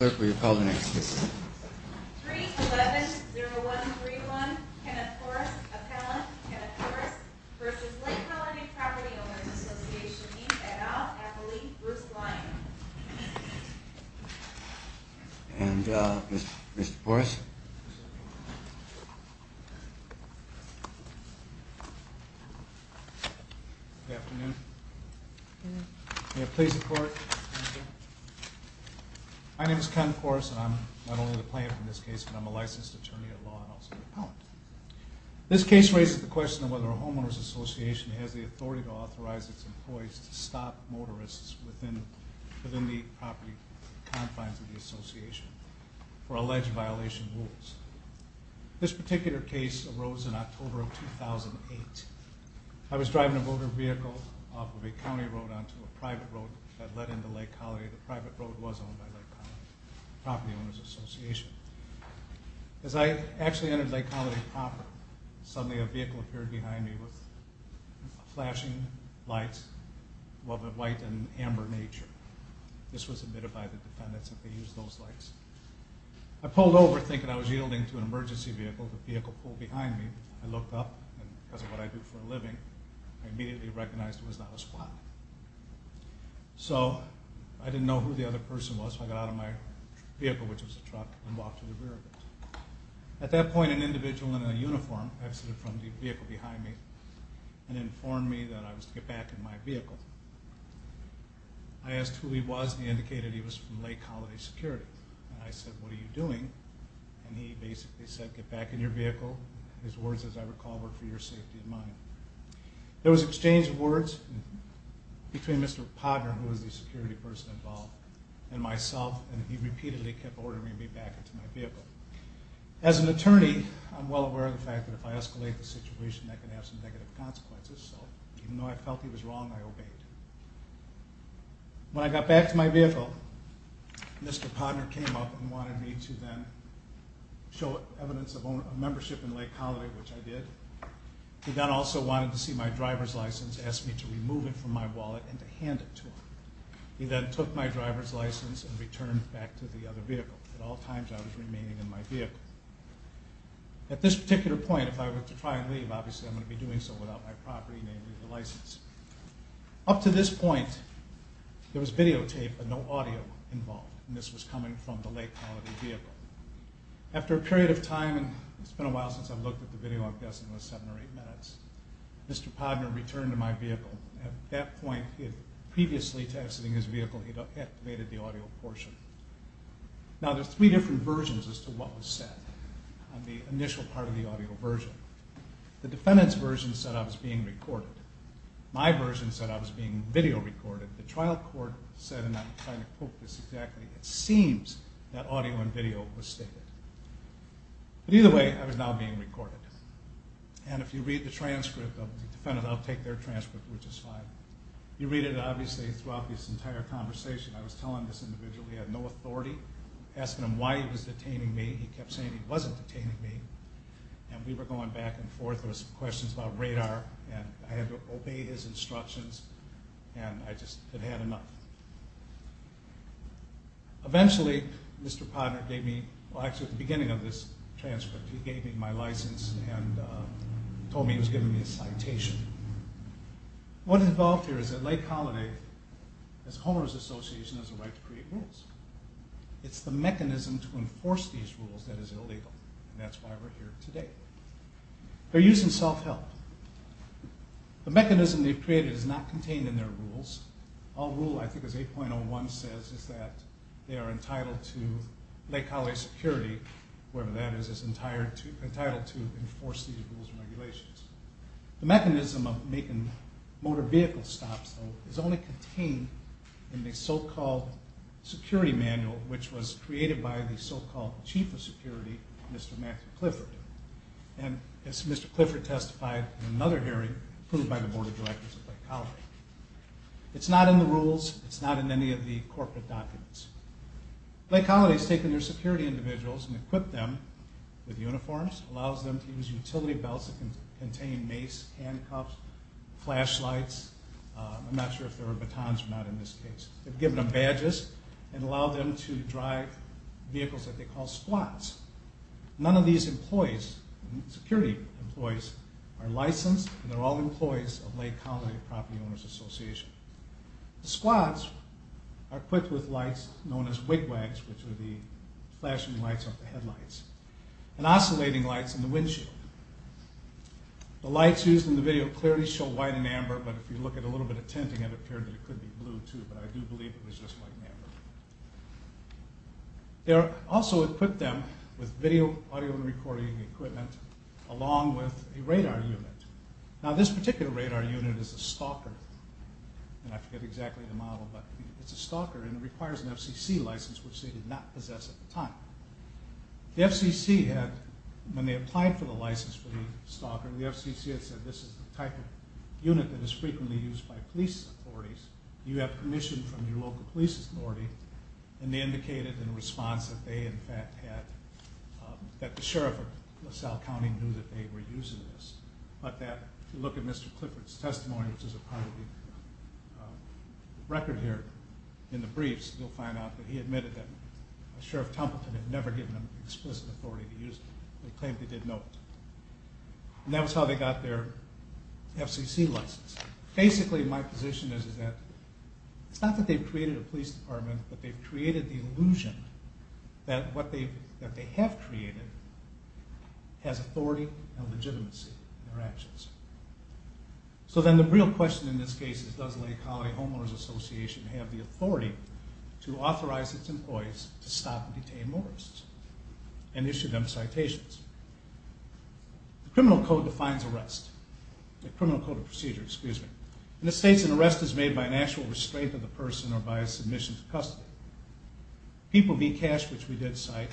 311-0131 Kenneth Poris, Appellant Kenneth Poris v. Lake Holiday Property Owners Association, Inc. et al. Appellee Bruce Lyon. And Mr. Poris? Good afternoon. May it please the Court. Thank you. My name is Ken Poris, and I'm not only the plaintiff in this case, but I'm a licensed attorney at law and also an appellant. This case raises the question of whether a homeowners association has the authority to authorize its employees to stop motorists within the property confines of the association for alleged violation of rules. This particular case arose in October of 2008. I was driving a motor vehicle off of a county road onto a private road that led into Lake Holiday. The private road was owned by Lake Holiday Property Owners Association. As I actually entered Lake Holiday property, suddenly a vehicle appeared behind me with flashing lights of a white and amber nature. This was admitted by the defendants, and they used those lights. I pulled over, thinking I was yielding to an emergency vehicle. As I was able to pull the vehicle behind me, I looked up, and because of what I do for a living, I immediately recognized it was not a squad. So I didn't know who the other person was, so I got out of my vehicle, which was a truck, and walked to the rear of it. At that point, an individual in a uniform exited from the vehicle behind me and informed me that I was to get back in my vehicle. I asked who he was, and he indicated he was from Lake Holiday Security. I said, what are you doing, and he basically said, get back in your vehicle. His words, as I recall, were for your safety and mine. There was exchange of words between Mr. Podner, who was the security person involved, and myself, and he repeatedly kept ordering me back into my vehicle. As an attorney, I'm well aware of the fact that if I escalate the situation, that can have some negative consequences, so even though I felt he was wrong, I obeyed. When I got back to my vehicle, Mr. Podner came up and wanted me to then show evidence of membership in Lake Holiday, which I did. He then also wanted to see my driver's license, asked me to remove it from my wallet, and to hand it to him. He then took my driver's license and returned back to the other vehicle. At all times, I was remaining in my vehicle. At this particular point, if I were to try and leave, obviously I'm going to be doing so without my property, namely the license. Up to this point, there was videotape, but no audio involved, and this was coming from the Lake Holiday vehicle. After a period of time, and it's been a while since I've looked at the video, I'm guessing it was seven or eight minutes, Mr. Podner returned to my vehicle. At that point, he had previously texted in his vehicle, he'd activated the audio portion. Now, there's three different versions as to what was said on the initial part of the audio version. The defendant's version said I was being recorded. My version said I was being video recorded. The trial court said, and I'm trying to quote this exactly, it seems that audio and video was stated. But either way, I was now being recorded. And if you read the transcript of the defendant, I'll take their transcript, which is fine. You read it, obviously, throughout this entire conversation. I was telling this individual he had no authority, asking him why he was detaining me. He kept saying he wasn't detaining me, and we were going back and forth. There were some questions about radar, and I had to obey his instructions, and I just had had enough. Eventually, Mr. Podner gave me, well actually at the beginning of this transcript, he gave me my license and told me he was giving me a citation. What is involved here is that Lake Holiday, as a homeowner's association, has a right to create rules. It's the mechanism to enforce these rules that is illegal, and that's why we're here today. They're using self-help. The mechanism they've created is not contained in their rules. All rule I think is 8.01 says is that they are entitled to Lake Holiday security, whatever that is, is entitled to enforce these rules and regulations. The mechanism of making motor vehicle stops, though, is only contained in the so-called security manual, which was created by the so-called chief of security, Mr. Matthew Clifford. As Mr. Clifford testified in another hearing approved by the Board of Directors of Lake Holiday. It's not in the rules. It's not in any of the corporate documents. Lake Holiday has taken their security individuals and equipped them with uniforms, allows them to use utility belts that contain mace, handcuffs, flashlights. I'm not sure if there are batons or not in this case. They've given them badges and allowed them to drive vehicles that they call squats. None of these employees, security employees, are licensed and they're all employees of Lake Holiday Property Owners Association. Squats are equipped with lights known as wigwags, which are the flashing lights of the headlights, and oscillating lights in the windshield. The lights used in the video clearly show white and amber, but if you look at a little bit of tinting it appeared that it could be blue too, but I do believe it was just white and amber. They also equipped them with video, audio recording equipment, along with a radar unit. Now this particular radar unit is a stalker, and I forget exactly the model, but it's a stalker and it requires an FCC license, which they did not possess at the time. The FCC had, when they applied for the license for the stalker, the FCC had said this is the type of unit that is frequently used by police authorities. You have permission from your local police authority, and they indicated in response that they in fact had, that the Sheriff of LaSalle County knew that they were using this. But that, if you look at Mr. Clifford's testimony, which is a part of the record here in the briefs, you'll find out that he admitted that Sheriff Tumpleton had never given them explicit authority to use it. They claimed they did not. And that was how they got their FCC license. Basically my position is that it's not that they've created a police department, but they've created the illusion that what they have created has authority and legitimacy in their actions. So then the real question in this case is does Lake County Homeowners Association have the authority to authorize its employees to stop and detain motorists and issue them citations? The criminal code defines arrest. The criminal code of procedure, excuse me. And it states an arrest is made by an actual restraint of the person or by a submission to custody. People v. Cash, which we did cite,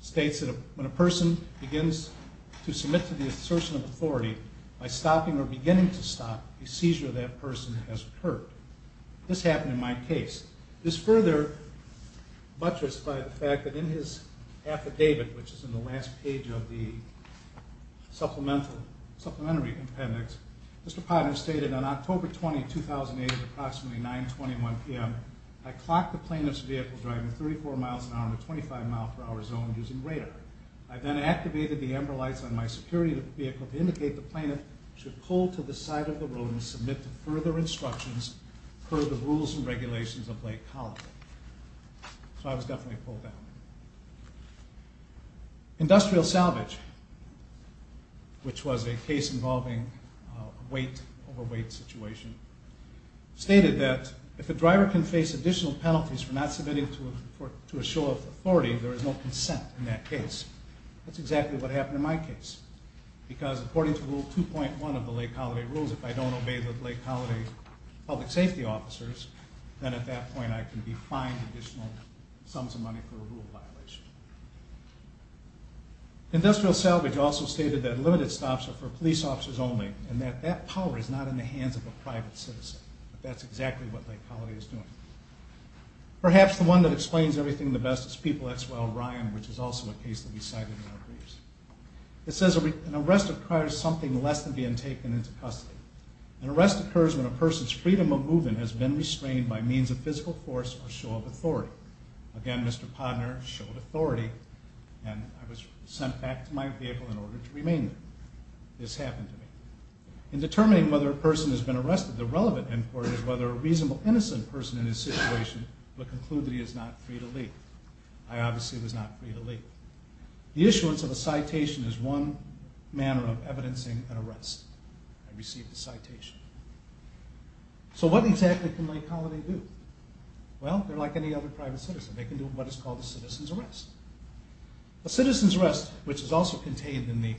states that when a person begins to submit to the assertion of authority by stopping or beginning to stop, a seizure of that person has occurred. This happened in my case. This further buttressed by the fact that in his affidavit, which is in the last page of the supplementary appendix, Mr. Potter stated, On October 20, 2008 at approximately 9.21 p.m., I clocked the plaintiff's vehicle driving 34 miles an hour in a 25 mile per hour zone using radar. I then activated the amber lights on my security vehicle to indicate the plaintiff should pull to the side of the road and submit to further instructions per the rules and regulations of Lake County. So I was definitely pulled down. Industrial salvage, which was a case involving a weight over weight situation, stated that if a driver can face additional penalties for not submitting to a show of authority, there is no consent in that case. That's exactly what happened in my case. Because according to Rule 2.1 of the Lake County rules, if I don't obey the Lake County public safety officers, then at that point I can be fined additional sums of money for a rule violation. Industrial salvage also stated that limited stops are for police officers only, and that that power is not in the hands of a private citizen. That's exactly what Lake County is doing. Perhaps the one that explains everything the best is People x Well Ryan, which is also a case that we cited in our briefs. It says an arrest requires something less than being taken into custody. An arrest occurs when a person's freedom of movement has been restrained by means of physical force or show of authority. Again, Mr. Podner showed authority, and I was sent back to my vehicle in order to remain there. This happened to me. In determining whether a person has been arrested, the relevant inquiry is whether a reasonable innocent person in this situation would conclude that he is not free to leave. I obviously was not free to leave. The issuance of a citation is one manner of evidencing an arrest. I received a citation. So what exactly can Lake County do? Well, they're like any other private citizen. They can do what is called a citizen's arrest. A citizen's arrest, which is also contained in the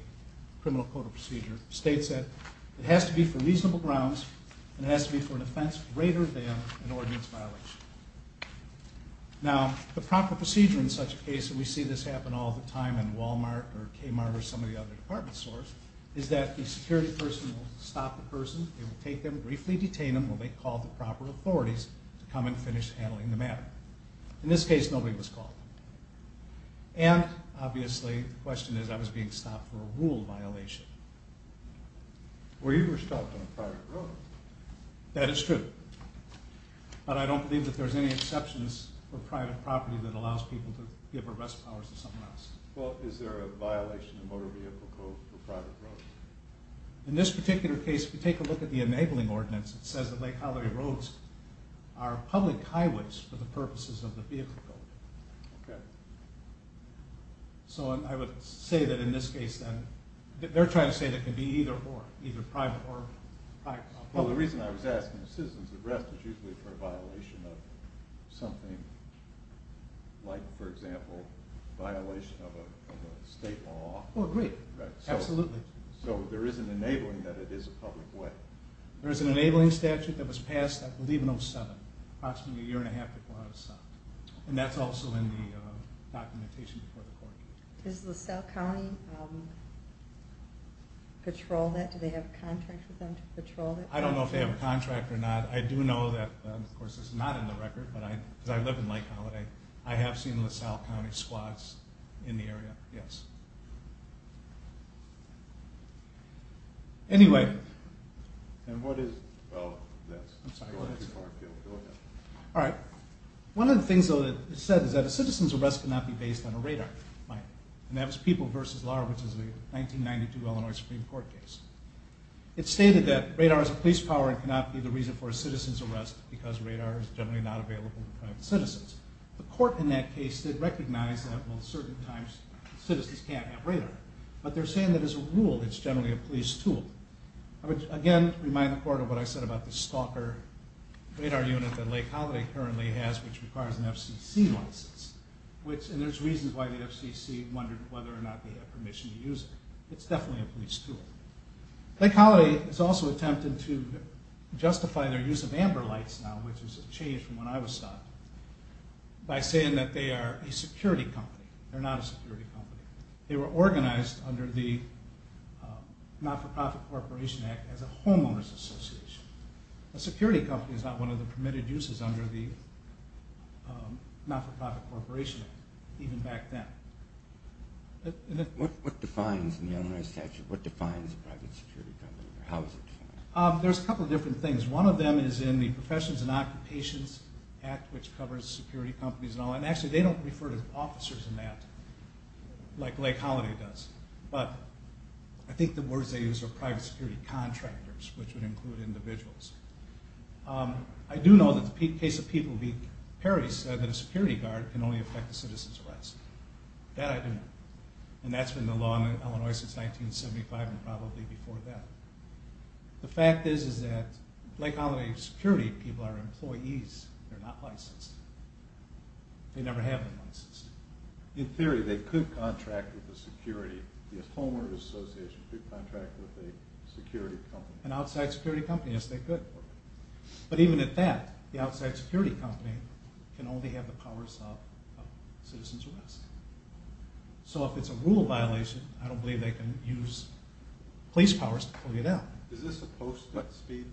Criminal Code of Procedure, states that it has to be for reasonable grounds, and it has to be for an offense greater than an ordinance violation. Now, the proper procedure in such a case, and we see this happen all the time in Walmart or Kmart or some of the other department stores, is that the security person will stop the person. They will take them, briefly detain them, when they call the proper authorities to come and finish handling the matter. In this case, nobody was called. And, obviously, the question is I was being stopped for a rule violation. Well, you were stopped on a private road. That is true. But I don't believe that there's any exceptions for private property that allows people to give arrest powers to someone else. Well, is there a violation of Motor Vehicle Code for private roads? In this particular case, if you take a look at the enabling ordinance, it says that Lake Colliery Roads are public highways for the purposes of the vehicle code. Okay. So I would say that in this case, then, they're trying to say that it can be either-or, either private or public. Well, the reason I was asking the citizens' arrest is usually for a violation of something like, for example, a violation of a state law. Oh, great. Absolutely. So there is an enabling that it is a public way. There is an enabling statute that was passed, I believe, in 07, approximately a year and a half before I was stopped. And that's also in the documentation before the court. Does LaSalle County patrol that? Do they have a contract with them to patrol that? I don't know if they have a contract or not. I do know that, of course, it's not in the record, but I live in Lake Colliery. I have seen LaSalle County squads in the area, yes. Anyway. And what is- oh, that's- I'm sorry. Go ahead. All right. One of the things, though, that is said is that a citizen's arrest cannot be based on a radar. And that was People v. Lahr, which is a 1992 Illinois Supreme Court case. It stated that radar is a police power and cannot be the reason for a citizen's arrest because radar is generally not available in front of citizens. The court in that case did recognize that, well, at certain times, citizens can't have radar. But they're saying that as a rule, it's generally a police tool. I would, again, remind the court of what I said about the stalker radar unit that Lake Colliery currently has, which requires an FCC license. And there's reasons why the FCC wondered whether or not they had permission to use it. It's definitely a police tool. Lake Colliery has also attempted to justify their use of amber lights now, which is a change from when I was stopped, by saying that they are a security company. They're not a security company. They were organized under the Not-for-Profit Corporation Act as a homeowner's association. A security company is not one of the permitted uses under the Not-for-Profit Corporation Act, even back then. What defines an Illinois statute? What defines a private security company, or how is it defined? There's a couple of different things. One of them is in the Professions and Occupations Act, which covers security companies and all. Like Lake Colliery does. But I think the words they use are private security contractors, which would include individuals. I do know that the case of People v. Perry said that a security guard can only affect a citizen's rights. That I do know. And that's been the law in Illinois since 1975 and probably before that. The fact is that Lake Colliery security people are employees. They're not licensed. They never have been licensed. In theory, they could contract with a security company. A homeowner's association could contract with a security company. An outside security company, yes, they could. But even at that, the outside security company can only have the powers of a citizen's rights. So if it's a rule violation, I don't believe they can use police powers to pull you down. Is this a posted speed?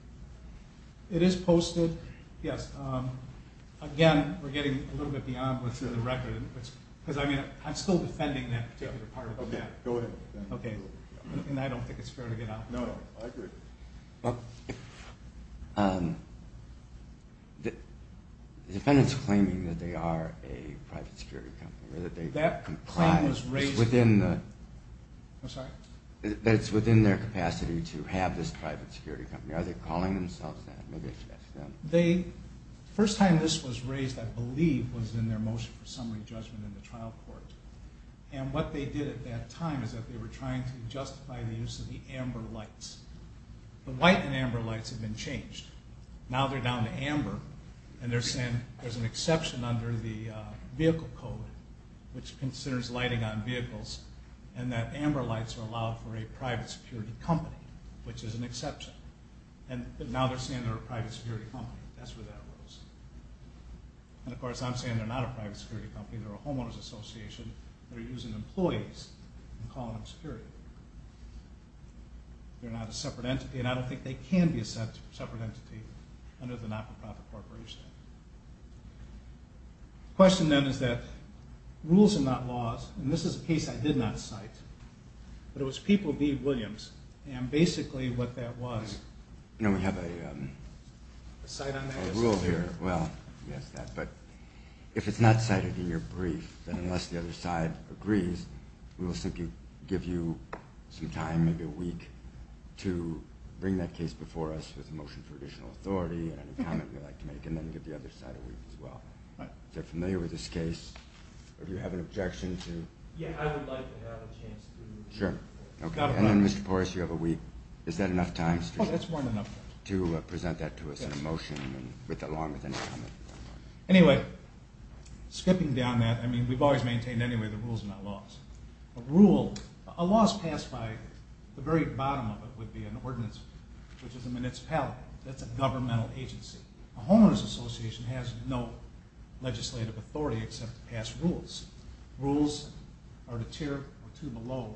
It is posted, yes. Again, we're getting a little bit beyond what's in the record. Because, I mean, I'm still defending that particular part of the matter. Okay, go ahead. Okay. And I don't think it's fair to get off the topic. No, I agree. The defendant's claiming that they are a private security company. That claim was raised. That it's within their capacity to have this private security company. Are they calling themselves that? The first time this was raised, I believe, was in their motion for summary judgment in the trial court. And what they did at that time is that they were trying to justify the use of the amber lights. The white and amber lights have been changed. Now they're down to amber. And they're saying there's an exception under the vehicle code, which considers lighting on vehicles. And that amber lights are allowed for a private security company, which is an exception. But now they're saying they're a private security company. That's where that arose. And, of course, I'm saying they're not a private security company. They're a homeowner's association. They're using employees and calling them security. They're not a separate entity. And I don't think they can be a separate entity under the not-for-profit corporation. The question, then, is that rules are not laws. And this is a case I did not cite. But it was People v. Williams. And, basically, what that was— No, we have a rule here. Well, yes, but if it's not cited in your brief, then unless the other side agrees, we will give you some time, maybe a week, to bring that case before us with a motion for additional authority and any comment you'd like to make, and then give the other side a week as well. Is that familiar with this case? Or do you have an objection to— Yeah, I would like to have a chance to— Sure. And then, Mr. Porras, you have a week. Is that enough time to present that to us in a motion along with any comment? Anyway, skipping down that, I mean, we've always maintained, anyway, that rules are not laws. A rule—a law is passed by—the very bottom of it would be an ordinance, which is a municipality. That's a governmental agency. A homeowner's association has no legislative authority except to pass rules. Rules are a tier or two below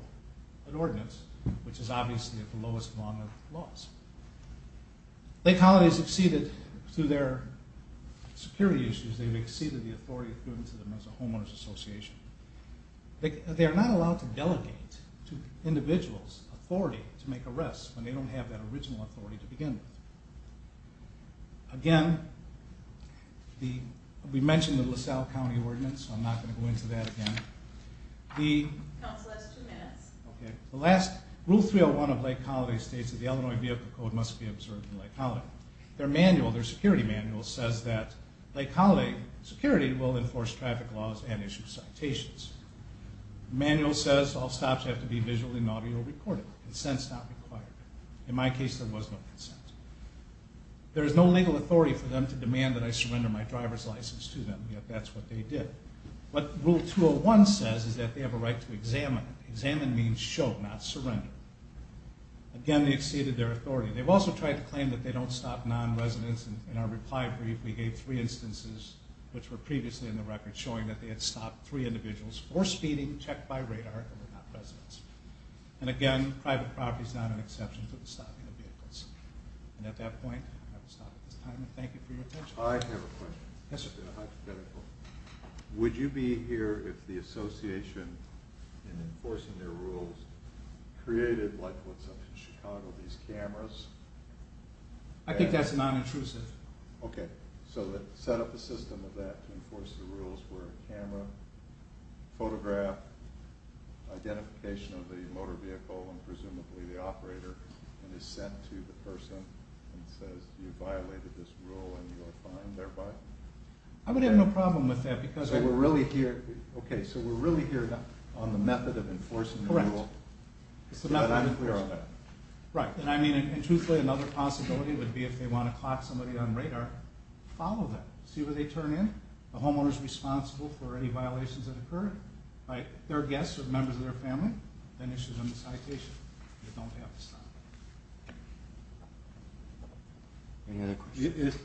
an ordinance, which is obviously at the lowest along with laws. Lake Colony has exceeded, through their security issues, they've exceeded the authority given to them as a homeowner's association. They are not allowed to delegate to individuals authority to make arrests when they don't have that original authority to begin with. Again, we mentioned the LaSalle County Ordinance, so I'm not going to go into that again. The— Counsel, that's two minutes. Okay. Rule 301 of Lake Colony states that the Illinois Vehicle Code must be observed in Lake Colony. Their manual, their security manual, says that Lake Colony security will enforce traffic laws and issue citations. Manual says all stops have to be visually and audio recorded. Consent's not required. In my case, there was no consent. There is no legal authority for them to demand that I surrender my driver's license to them, yet that's what they did. What Rule 201 says is that they have a right to examine. Examine means show, not surrender. Again, they've exceeded their authority. They've also tried to claim that they don't stop non-residents. In our reply brief, we gave three instances, which were previously in the record, showing that they had stopped three individuals for speeding, checked by radar, and were not residents. And again, private property is not an exception to the stopping of vehicles. And at that point, I will stop at this time, and thank you for your attention. I have a question. Yes, sir. A hypothetical. Would you be here if the association in enforcing their rules created, like what's up in Chicago, these cameras? I think that's non-intrusive. Okay. So they set up a system of that to enforce the rules where a camera, photograph, identification of the motor vehicle and presumably the operator, and is sent to the person and says you violated this rule and you are fined thereby? I would have no problem with that because we're really here. Okay, so we're really here on the method of enforcing the rule. Correct. But I'm clear on that. Right. And I mean, truthfully, another possibility would be if they want to clock somebody on radar, follow them. See where they turn in. The homeowner is responsible for any violations that occur. Their guests are members of their family. Then issue them a citation. They don't have to stop. Any other questions?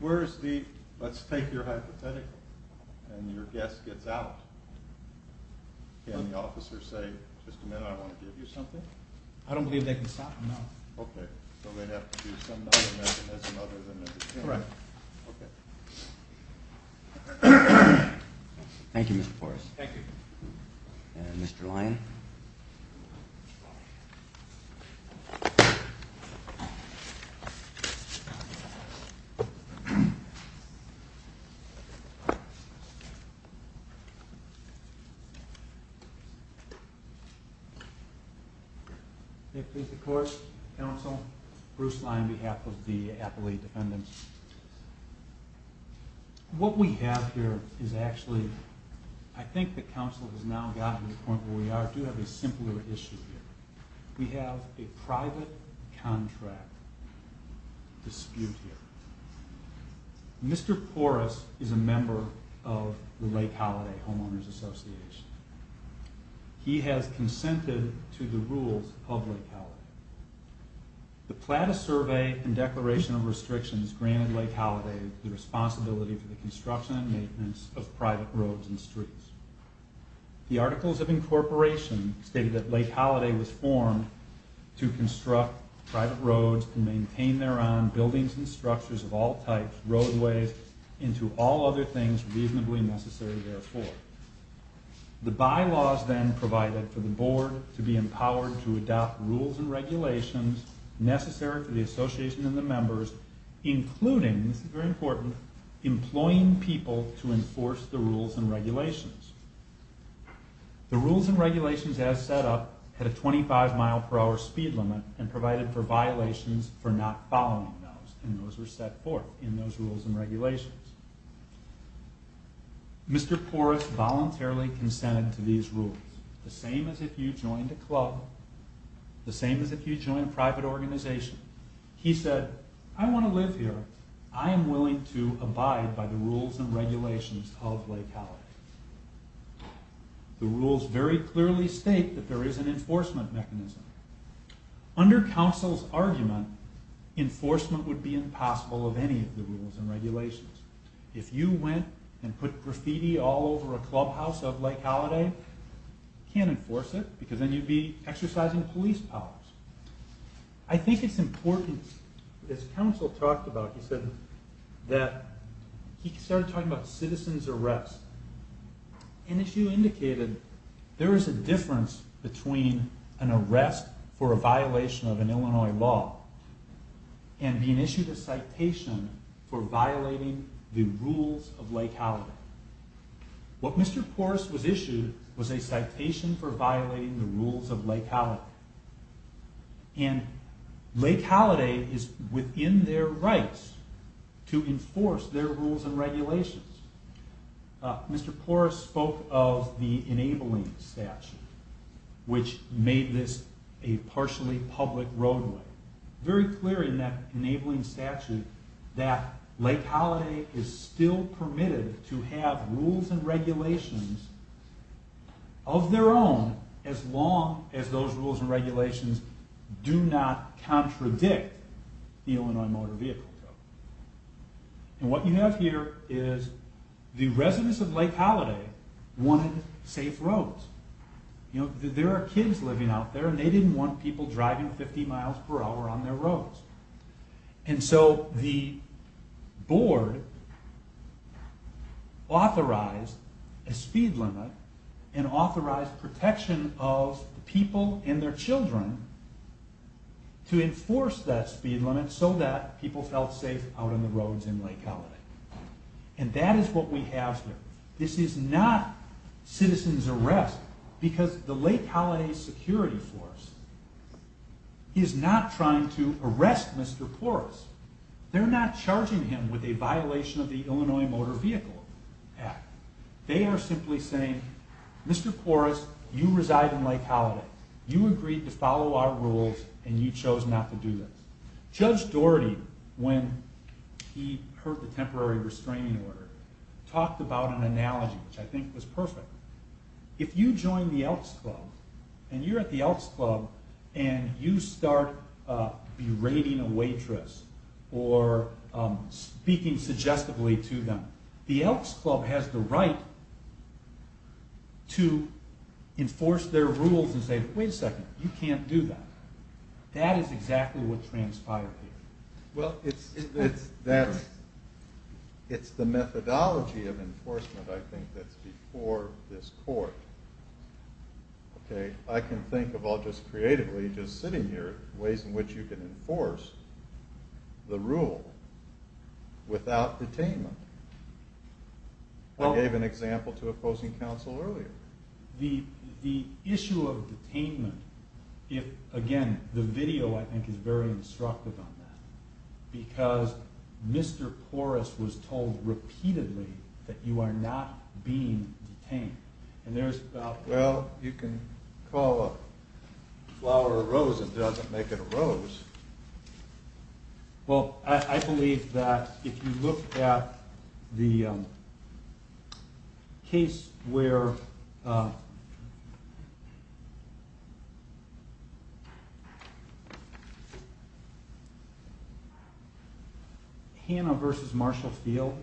Where is the, let's take your hypothetical, and your guest gets out, can the officer say, just a minute, I want to give you something? I don't believe they can stop him now. Okay. So they'd have to do some other mechanism other than the camera. Correct. Okay. Thank you, Mr. Forrest. Thank you. And Mr. Lyon. May it please the court, counsel, Bruce Lyon on behalf of the appellee defendants. What we have here is actually, I think the counsel has now gotten to the point where we are. We do have a simpler issue here. We have a private contract dispute here. Mr. Porras is a member of the Lake Holiday Homeowners Association. He has consented to the rules of Lake Holiday. The plan of survey and declaration of restrictions granted Lake Holiday the responsibility for the construction and maintenance of private roads and streets. The articles of incorporation state that Lake Holiday was formed to construct private roads and maintain their own buildings and structures of all types, roadways, and to all other things reasonably necessary therefore. The bylaws then provided for the board to be empowered to adopt rules and regulations necessary for the association and the members, including, this is very important, employing people to enforce the rules and regulations. The rules and regulations as set up had a 25 mile per hour speed limit and provided for violations for not following those and those were set forth in those rules and regulations. Mr. Porras voluntarily consented to these rules, the same as if you joined a club, the same as if you joined a private organization. He said, I want to live here. I am willing to abide by the rules and regulations of Lake Holiday. The rules very clearly state that there is an enforcement mechanism. Under counsel's argument, enforcement would be impossible of any of the rules and regulations. If you went and put graffiti all over a clubhouse of Lake Holiday, you can't enforce it because then you'd be exercising police powers. I think it's important, as counsel talked about, he said that, he started talking about citizen's arrest. As you indicated, there is a difference between an arrest for a violation of an Illinois law and being issued a citation for violating the rules of Lake Holiday. What Mr. Porras was issued was a citation for violating the rules of Lake Holiday. Lake Holiday is within their rights to enforce their rules and regulations. Mr. Porras spoke of the enabling statute, which made this a partially public roadway. Very clear in that enabling statute that Lake Holiday is still permitted to have rules and regulations of their own as long as those rules and regulations do not contradict the Illinois Motor Vehicle Code. What you have here is the residents of Lake Holiday wanted safe roads. There are kids living out there and they didn't want people driving 50 miles per hour on their roads. The board authorized a speed limit and authorized protection of people and their children to enforce that speed limit so that people felt safe out on the roads in Lake Holiday. That is what we have here. This is not citizen's arrest because the Lake Holiday security force is not trying to arrest Mr. Porras. They're not charging him with a violation of the Illinois Motor Vehicle Act. They are simply saying, Mr. Porras, you reside in Lake Holiday. You agreed to follow our rules and you chose not to do this. Judge Doherty, when he heard the temporary restraining order, talked about an analogy which I think was perfect. If you join the Elks Club and you're at the Elks Club and you start berating a waitress or speaking suggestively to them, the Elks Club has the right to enforce their rules and say, wait a second, you can't do that. That is exactly what transpired here. Well, it's the methodology of enforcement I think that's before this court. I can think of all just creatively, just sitting here, ways in which you can enforce the rule without detainment. I gave an example to opposing counsel earlier. The issue of detainment, again, the video I think is very instructive on that. Because Mr. Porras was told repeatedly that you are not being detained. And there's about, well, you can call a flower a rose and it doesn't make it a rose. Well, I believe that if you look at the case where Hanna versus Marshall Field,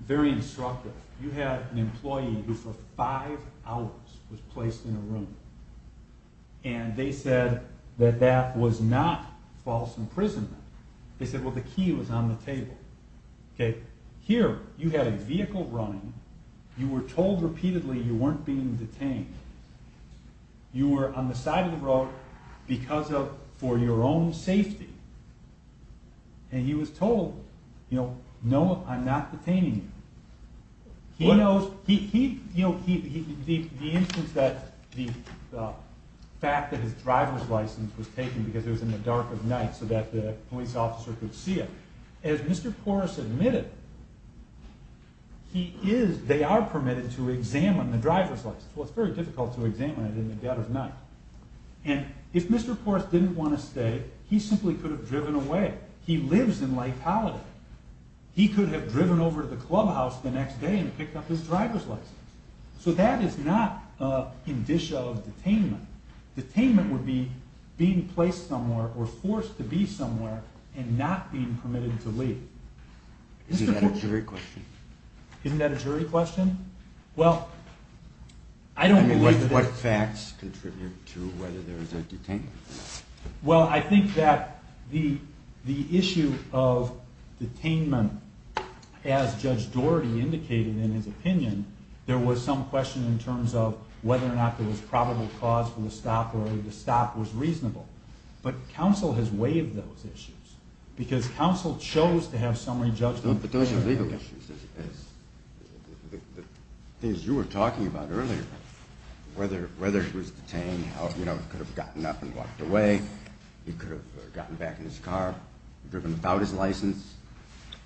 very instructive. You had an employee who for five hours was placed in a room. And they said that that was not false imprisonment. They said, well, the key was on the table. Here, you had a vehicle running. You were told repeatedly you weren't being detained. You were on the side of the road for your own safety. And he was told, no, I'm not detaining you. The fact that his driver's license was taken because it was in the dark of night so that the police officer could see it. As Mr. Porras admitted, they are permitted to examine the driver's license. Well, it's very difficult to examine it in the dead of night. And if Mr. Porras didn't want to stay, he simply could have driven away. He lives in Lake Holiday. He could have driven over to the clubhouse the next day and picked up his driver's license. So that is not a condition of detainment. Detainment would be being placed somewhere or forced to be somewhere and not being permitted to leave. Is that a jury question? Isn't that a jury question? What facts contribute to whether there is a detainment? Well, I think that the issue of detainment, as Judge Doherty indicated in his opinion, there was some question in terms of whether or not there was probable cause for the stop or the stop was reasonable. But counsel has waived those issues because counsel chose to have summary judgment. But those are legal issues. The things you were talking about earlier, whether he was detained, could have gotten up and walked away, he could have gotten back in his car, driven without his license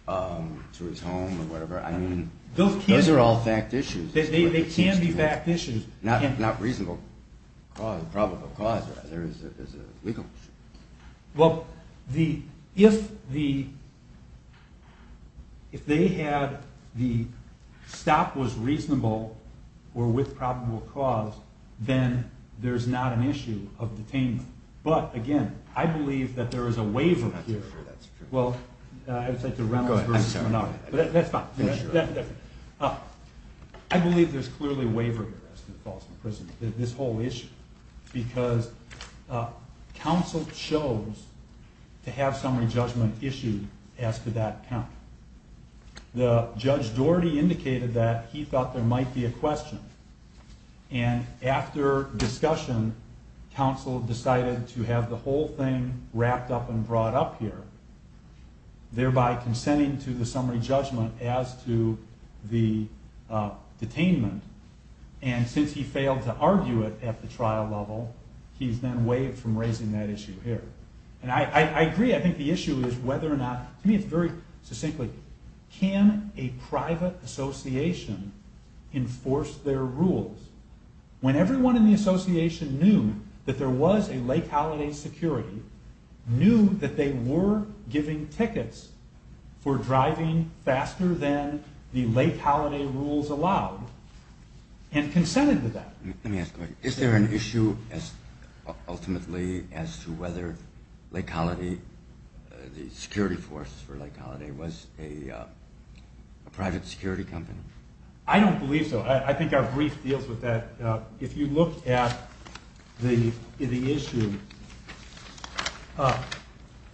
to his home or whatever. I mean, those are all fact issues. They can be fact issues. Not reasonable cause, probable cause. There is a legal issue. Well, if they had the stop was reasonable or with probable cause, then there is not an issue of detainment. But, again, I believe that there is a waiver here. That's true. Well, I would say to Reynolds versus Menard, but that's fine. I believe there is clearly a waiver here as to the cause of imprisonment, this whole issue. Because counsel chose to have summary judgment issued as to that count. Judge Doherty indicated that he thought there might be a question. And after discussion, counsel decided to have the whole thing wrapped up and brought up here, thereby consenting to the summary judgment as to the detainment. And since he failed to argue it at the trial level, he's then waived from raising that issue here. And I agree. I think the issue is whether or not, to me it's very succinctly, can a private association enforce their rules? When everyone in the association knew that there was a late holiday security, knew that they were giving tickets for driving faster than the late holiday rules allowed, and consented to that. Let me ask a question. Is there an issue, ultimately, as to whether the security force for late holiday was a private security company? I don't believe so. I think our brief deals with that. If you look at the issue,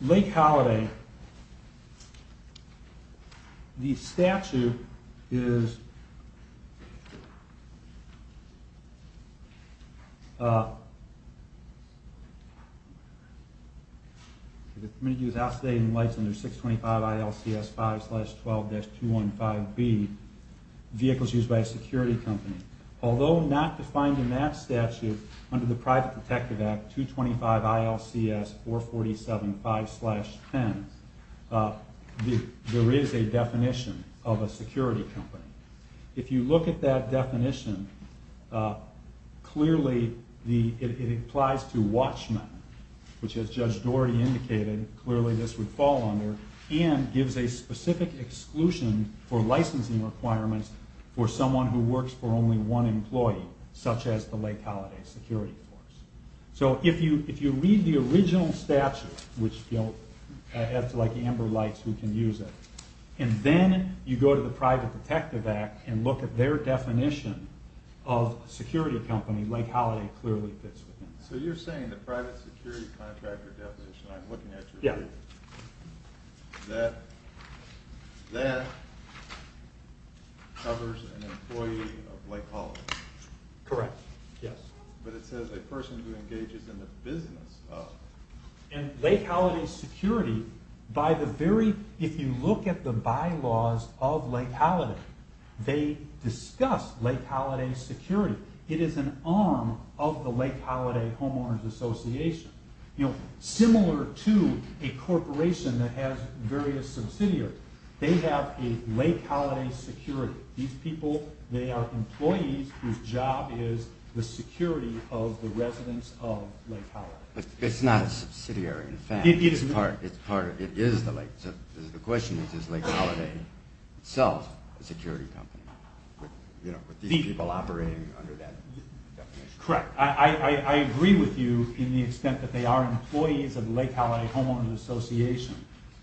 late holiday, the statute is, the committee was out today and lights under 625 ILCS 5-12-215B, vehicles used by a security company. Although not defined in that statute under the Private Protective Act 225 ILCS 447-5-10, there is a definition of a security company. If you look at that definition, clearly it applies to watchmen, which as Judge Doherty indicated, clearly this would fall under, and gives a specific exclusion for licensing requirements for someone who works for only one employee, such as the late holiday security force. So if you read the original statute, which is like amber lights, you can use it, and then you go to the Private Protective Act and look at their definition of a security company, late holiday clearly fits within that. So you're saying the private security contractor definition, I'm looking at your brief, that covers an employee of late holiday? Correct, yes. But it says a person who engages in the business of late holiday security. If you look at the bylaws of late holiday, they discuss late holiday security. It is an arm of the late holiday homeowners association. Similar to a corporation that has various subsidiaries. They have a late holiday security. These people, they are employees whose job is the security of the residents of late holiday. But it's not a subsidiary in fact. It is the late holiday. The question is, is late holiday itself a security company? With these people operating under that definition. Correct. I agree with you in the extent that they are employees of the late holiday homeowners association.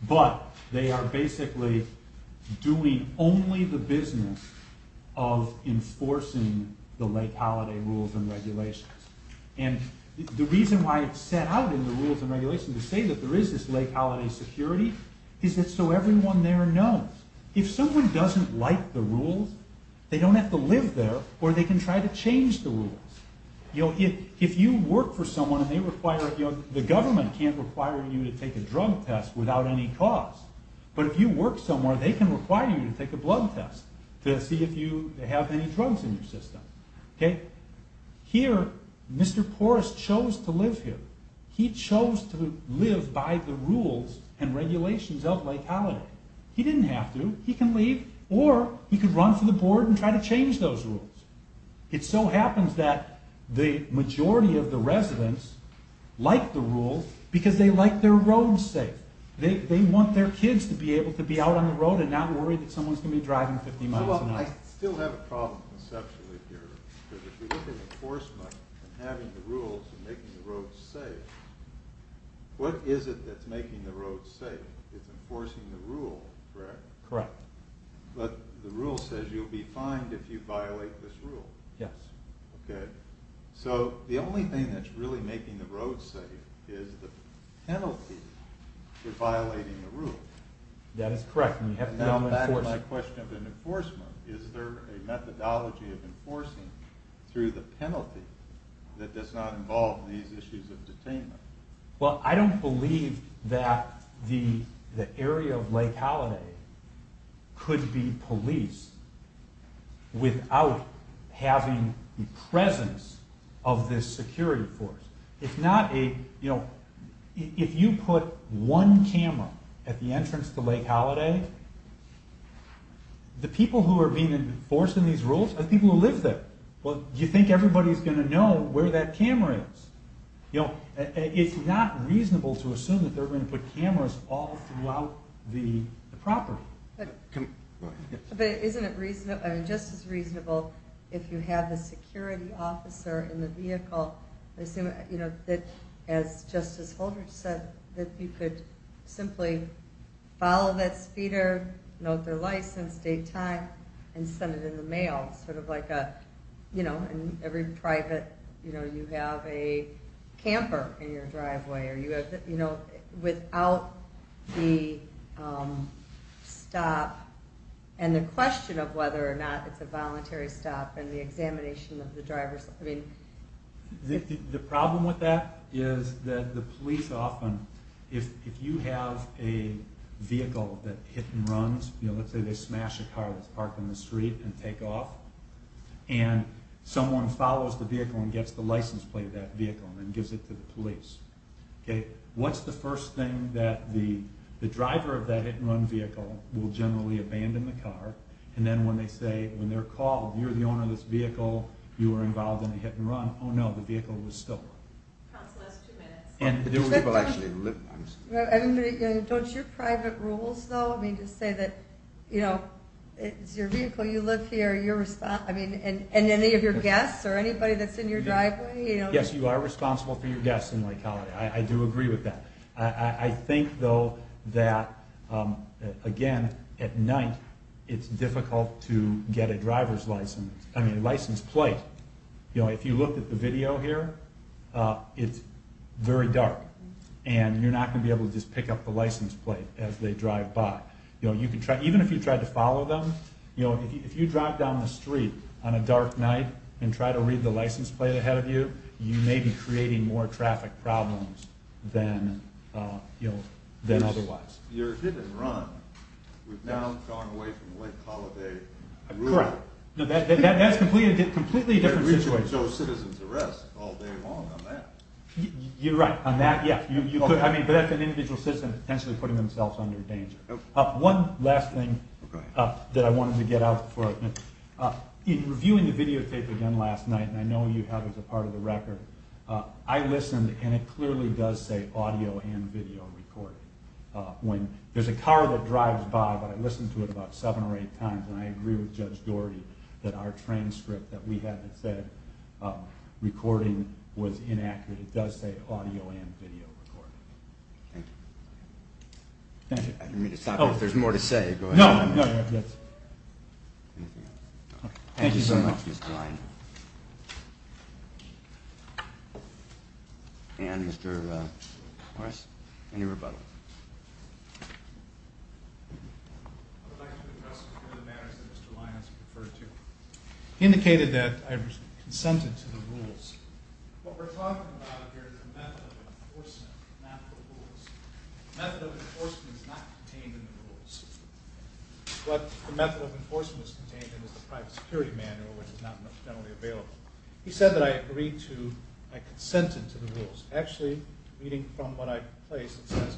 But they are basically doing only the business of enforcing the late holiday rules and regulations. And the reason why it's set out in the rules and regulations to say that there is this late holiday security is so everyone there knows. If someone doesn't like the rules, they don't have to live there or they can try to change the rules. If you work for someone, the government can't require you to take a drug test without any cost. But if you work somewhere, they can require you to take a blood test to see if you have any drugs in your system. Here, Mr. Porras chose to live here. He chose to live by the rules and regulations of late holiday. He didn't have to. He can leave or he can run for the board and try to change those rules. It so happens that the majority of the residents like the rules because they like their roads safe. They want their kids to be able to be out on the road and not worry that someone is going to be driving 50 miles an hour. I still have a problem conceptually here. Because if you look at enforcement and having the rules and making the roads safe, what is it that's making the roads safe? It's enforcing the rule, correct? Correct. But the rule says you'll be fined if you violate this rule. Yes. Okay. So the only thing that's really making the roads safe is the penalty for violating the rule. That is correct. Now back to my question of enforcement. Is there a methodology of enforcing through the penalty that does not involve these issues of detainment? Well, I don't believe that the area of Lake Holiday could be policed without having the presence of this security force. If you put one camera at the entrance to Lake Holiday, the people who are being enforced in these rules are people who live there. Do you think everybody is going to know where that camera is? It's not reasonable to assume that they're going to put cameras all throughout the property. Isn't it just as reasonable if you have a security officer in the vehicle, as Justice Holdridge said, that you could simply follow that speeder, note their license, date, time, and send it in the mail. Sort of like in every private, you have a camper in your driveway. Without the stop and the question of whether or not it's a voluntary stop and the examination of the driver's license. The problem with that is that the police often, if you have a vehicle that hit and runs, let's say they smash a car that's parked on the street and take off, and someone follows the vehicle and gets the license plate of that vehicle and gives it to the police. What's the first thing that the driver of that hit and run vehicle will generally abandon the car, and then when they say, when they're called, you're the owner of this vehicle, you were involved in a hit and run, oh no, the vehicle was stolen. Council has two minutes. Don't your private rules, though, say that it's your vehicle, you live here, and any of your guests or anybody that's in your driveway? Yes, you are responsible for your guests in Lake Hollyday. I do agree with that. I think, though, that again, at night, it's difficult to get a driver's license, I mean license plate. If you look at the video here, it's very dark, and you're not going to be able to just pick up the license plate as they drive by. Even if you tried to follow them, if you drive down the street on a dark night and try to read the license plate ahead of you, you may be creating more traffic problems than otherwise. Your hit and run was now going away from Lake Holliday. Correct. That's a completely different situation. You can show a citizen's arrest all day long on that. You're right. But that's an individual citizen potentially putting themselves under danger. One last thing that I wanted to get out for, in reviewing the videotape again last night, and I know you have it as a part of the record, I listened, and it clearly does say audio and video recording. There's a car that drives by, but I listened to it about seven or eight times, and I agree with Judge Doherty that our transcript that we had that said recording was inaccurate. It does say audio and video recording. Thank you. I didn't mean to stop you. If there's more to say, go ahead. No, no, no. Thank you so much, Mr. Lyon. And, Mr. Morris, any rebuttal? I would like to address some of the matters that Mr. Lyon has referred to. He indicated that I consented to the rules. What we're talking about here is the method of enforcement, not the rules. The method of enforcement is not contained in the rules. What the method of enforcement is contained in is the private security manual, which is not generally available. He said that I agreed to, I consented to the rules. Actually, reading from what I placed, it says,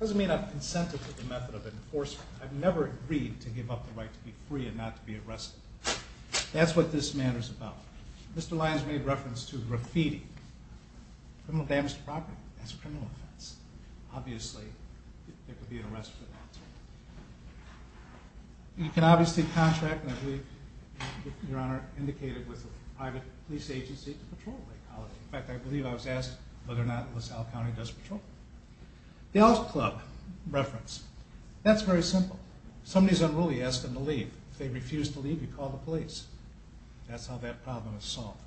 It doesn't mean I've consented to the method of enforcement. I've never agreed to give up the right to be free and not to be arrested. That's what this matter's about. Mr. Lyon's made reference to graffiti. Criminal damage to property, that's a criminal offense. Obviously, there could be an arrest for that. You can obviously contract, as your Honor indicated, with a private police agency to patrol Lake College. In fact, I believe I was asked whether or not LaSalle County does patrol. The Elk Club reference, that's very simple. Somebody's unruly, you ask them to leave. If they refuse to leave, you call the police. That's how that problem is solved.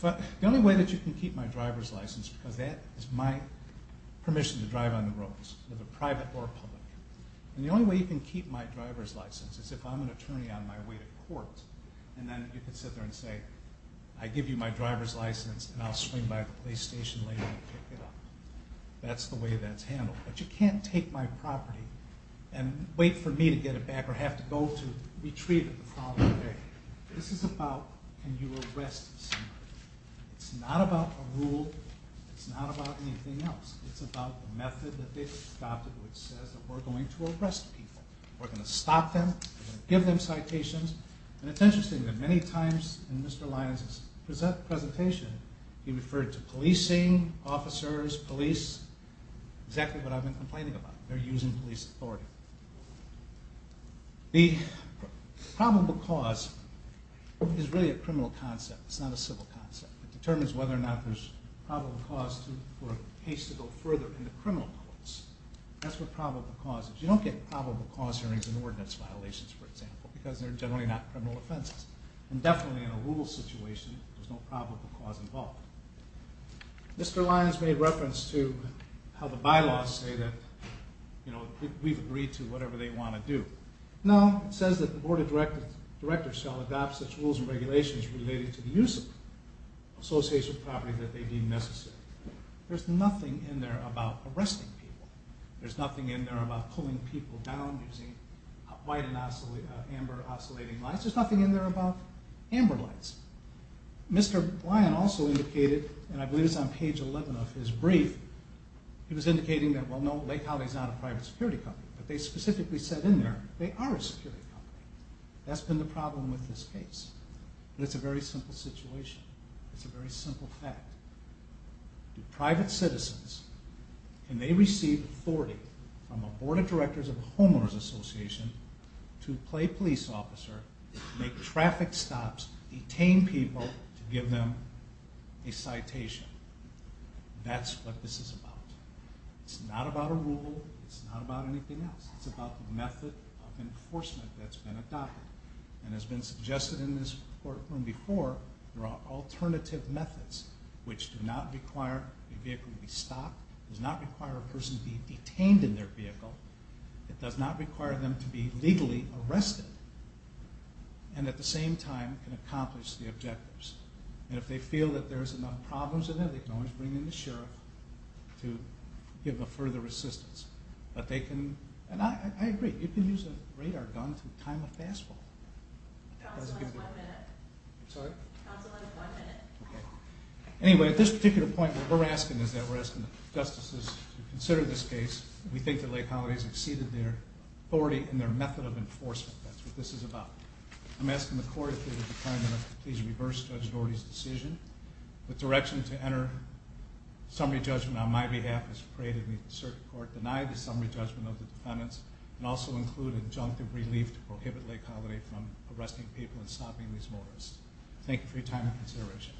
The only way that you can keep my driver's license, because that is my permission to drive on the roads, whether private or public. The only way you can keep my driver's license is if I'm an attorney on my way to court. Then you can sit there and say, I give you my driver's license and I'll swing by the police station later and pick it up. That's the way that's handled. But you can't take my property and wait for me to get it back or have to go to retrieve it the following day. This is about can you arrest someone. It's not about a rule. It's not about anything else. It's about the method that they've adopted which says that we're going to arrest people. We're going to stop them. We're going to give them citations. It's interesting that many times in Mr. Lyons' presentation, he referred to policing, officers, police, exactly what I've been complaining about. They're using police authority. The probable cause is really a criminal concept. It's not a civil concept. It determines whether or not there's probable cause for a case to go further into criminal courts. That's what probable cause is. You don't get probable cause hearings in ordinance violations, for example, because they're generally not criminal offenses. And definitely in a rule situation, there's no probable cause involved. Mr. Lyons made reference to how the bylaws say that we've agreed to whatever they want to do. No, it says that the Board of Directors shall adopt such rules and regulations related to the use of association property that they deem necessary. There's nothing in there about arresting people. There's nothing in there about pulling people down using white and amber oscillating lights. There's nothing in there about amber lights. Mr. Lyons also indicated, and I believe it's on page 11 of his brief, he was indicating that, well, no, Lake Holly is not a private security company. But they specifically said in there they are a security company. That's been the problem with this case. But it's a very simple situation. It's a very simple fact. Do private citizens, and they receive authority from the Board of Directors of a homeowner's association to play police officer, make traffic stops, detain people to give them a citation. That's what this is about. It's not about a rule. It's not about anything else. It's about the method of enforcement that's been adopted. And it's been suggested in this courtroom before there are alternative methods which do not require a vehicle to be stopped, does not require a person to be detained in their vehicle, it does not require them to be legally arrested, and at the same time can accomplish the objectives. And if they feel that there's enough problems in there, they can always bring in the sheriff to give them further assistance. But they can, and I agree, you can use a radar gun to time a fastball. Counsel, I have one minute. I'm sorry? Counsel, I have one minute. Okay. Anyway, at this particular point what we're asking is that we're asking the justices to consider this case. We think that Lake Holliday has exceeded their authority and their method of enforcement. That's what this is about. I'm asking the Court, through the Department, to please reverse Judge Norty's decision. The direction to enter summary judgment on my behalf is to pray that the circuit court deny the summary judgment of the defendants and also include injunctive relief to prohibit Lake Holliday from arresting people and stopping these motorists. Thank you for your time and consideration.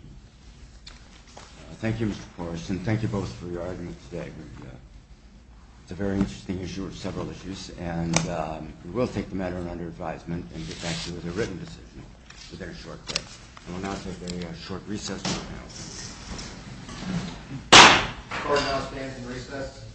Thank you, Mr. Porras, and thank you both for your argument today. It's a very interesting issue of several issues, and we will take the matter under advisement and get back to you with a written decision within a short time. I will now take a short recess now. The Court now stands in recess.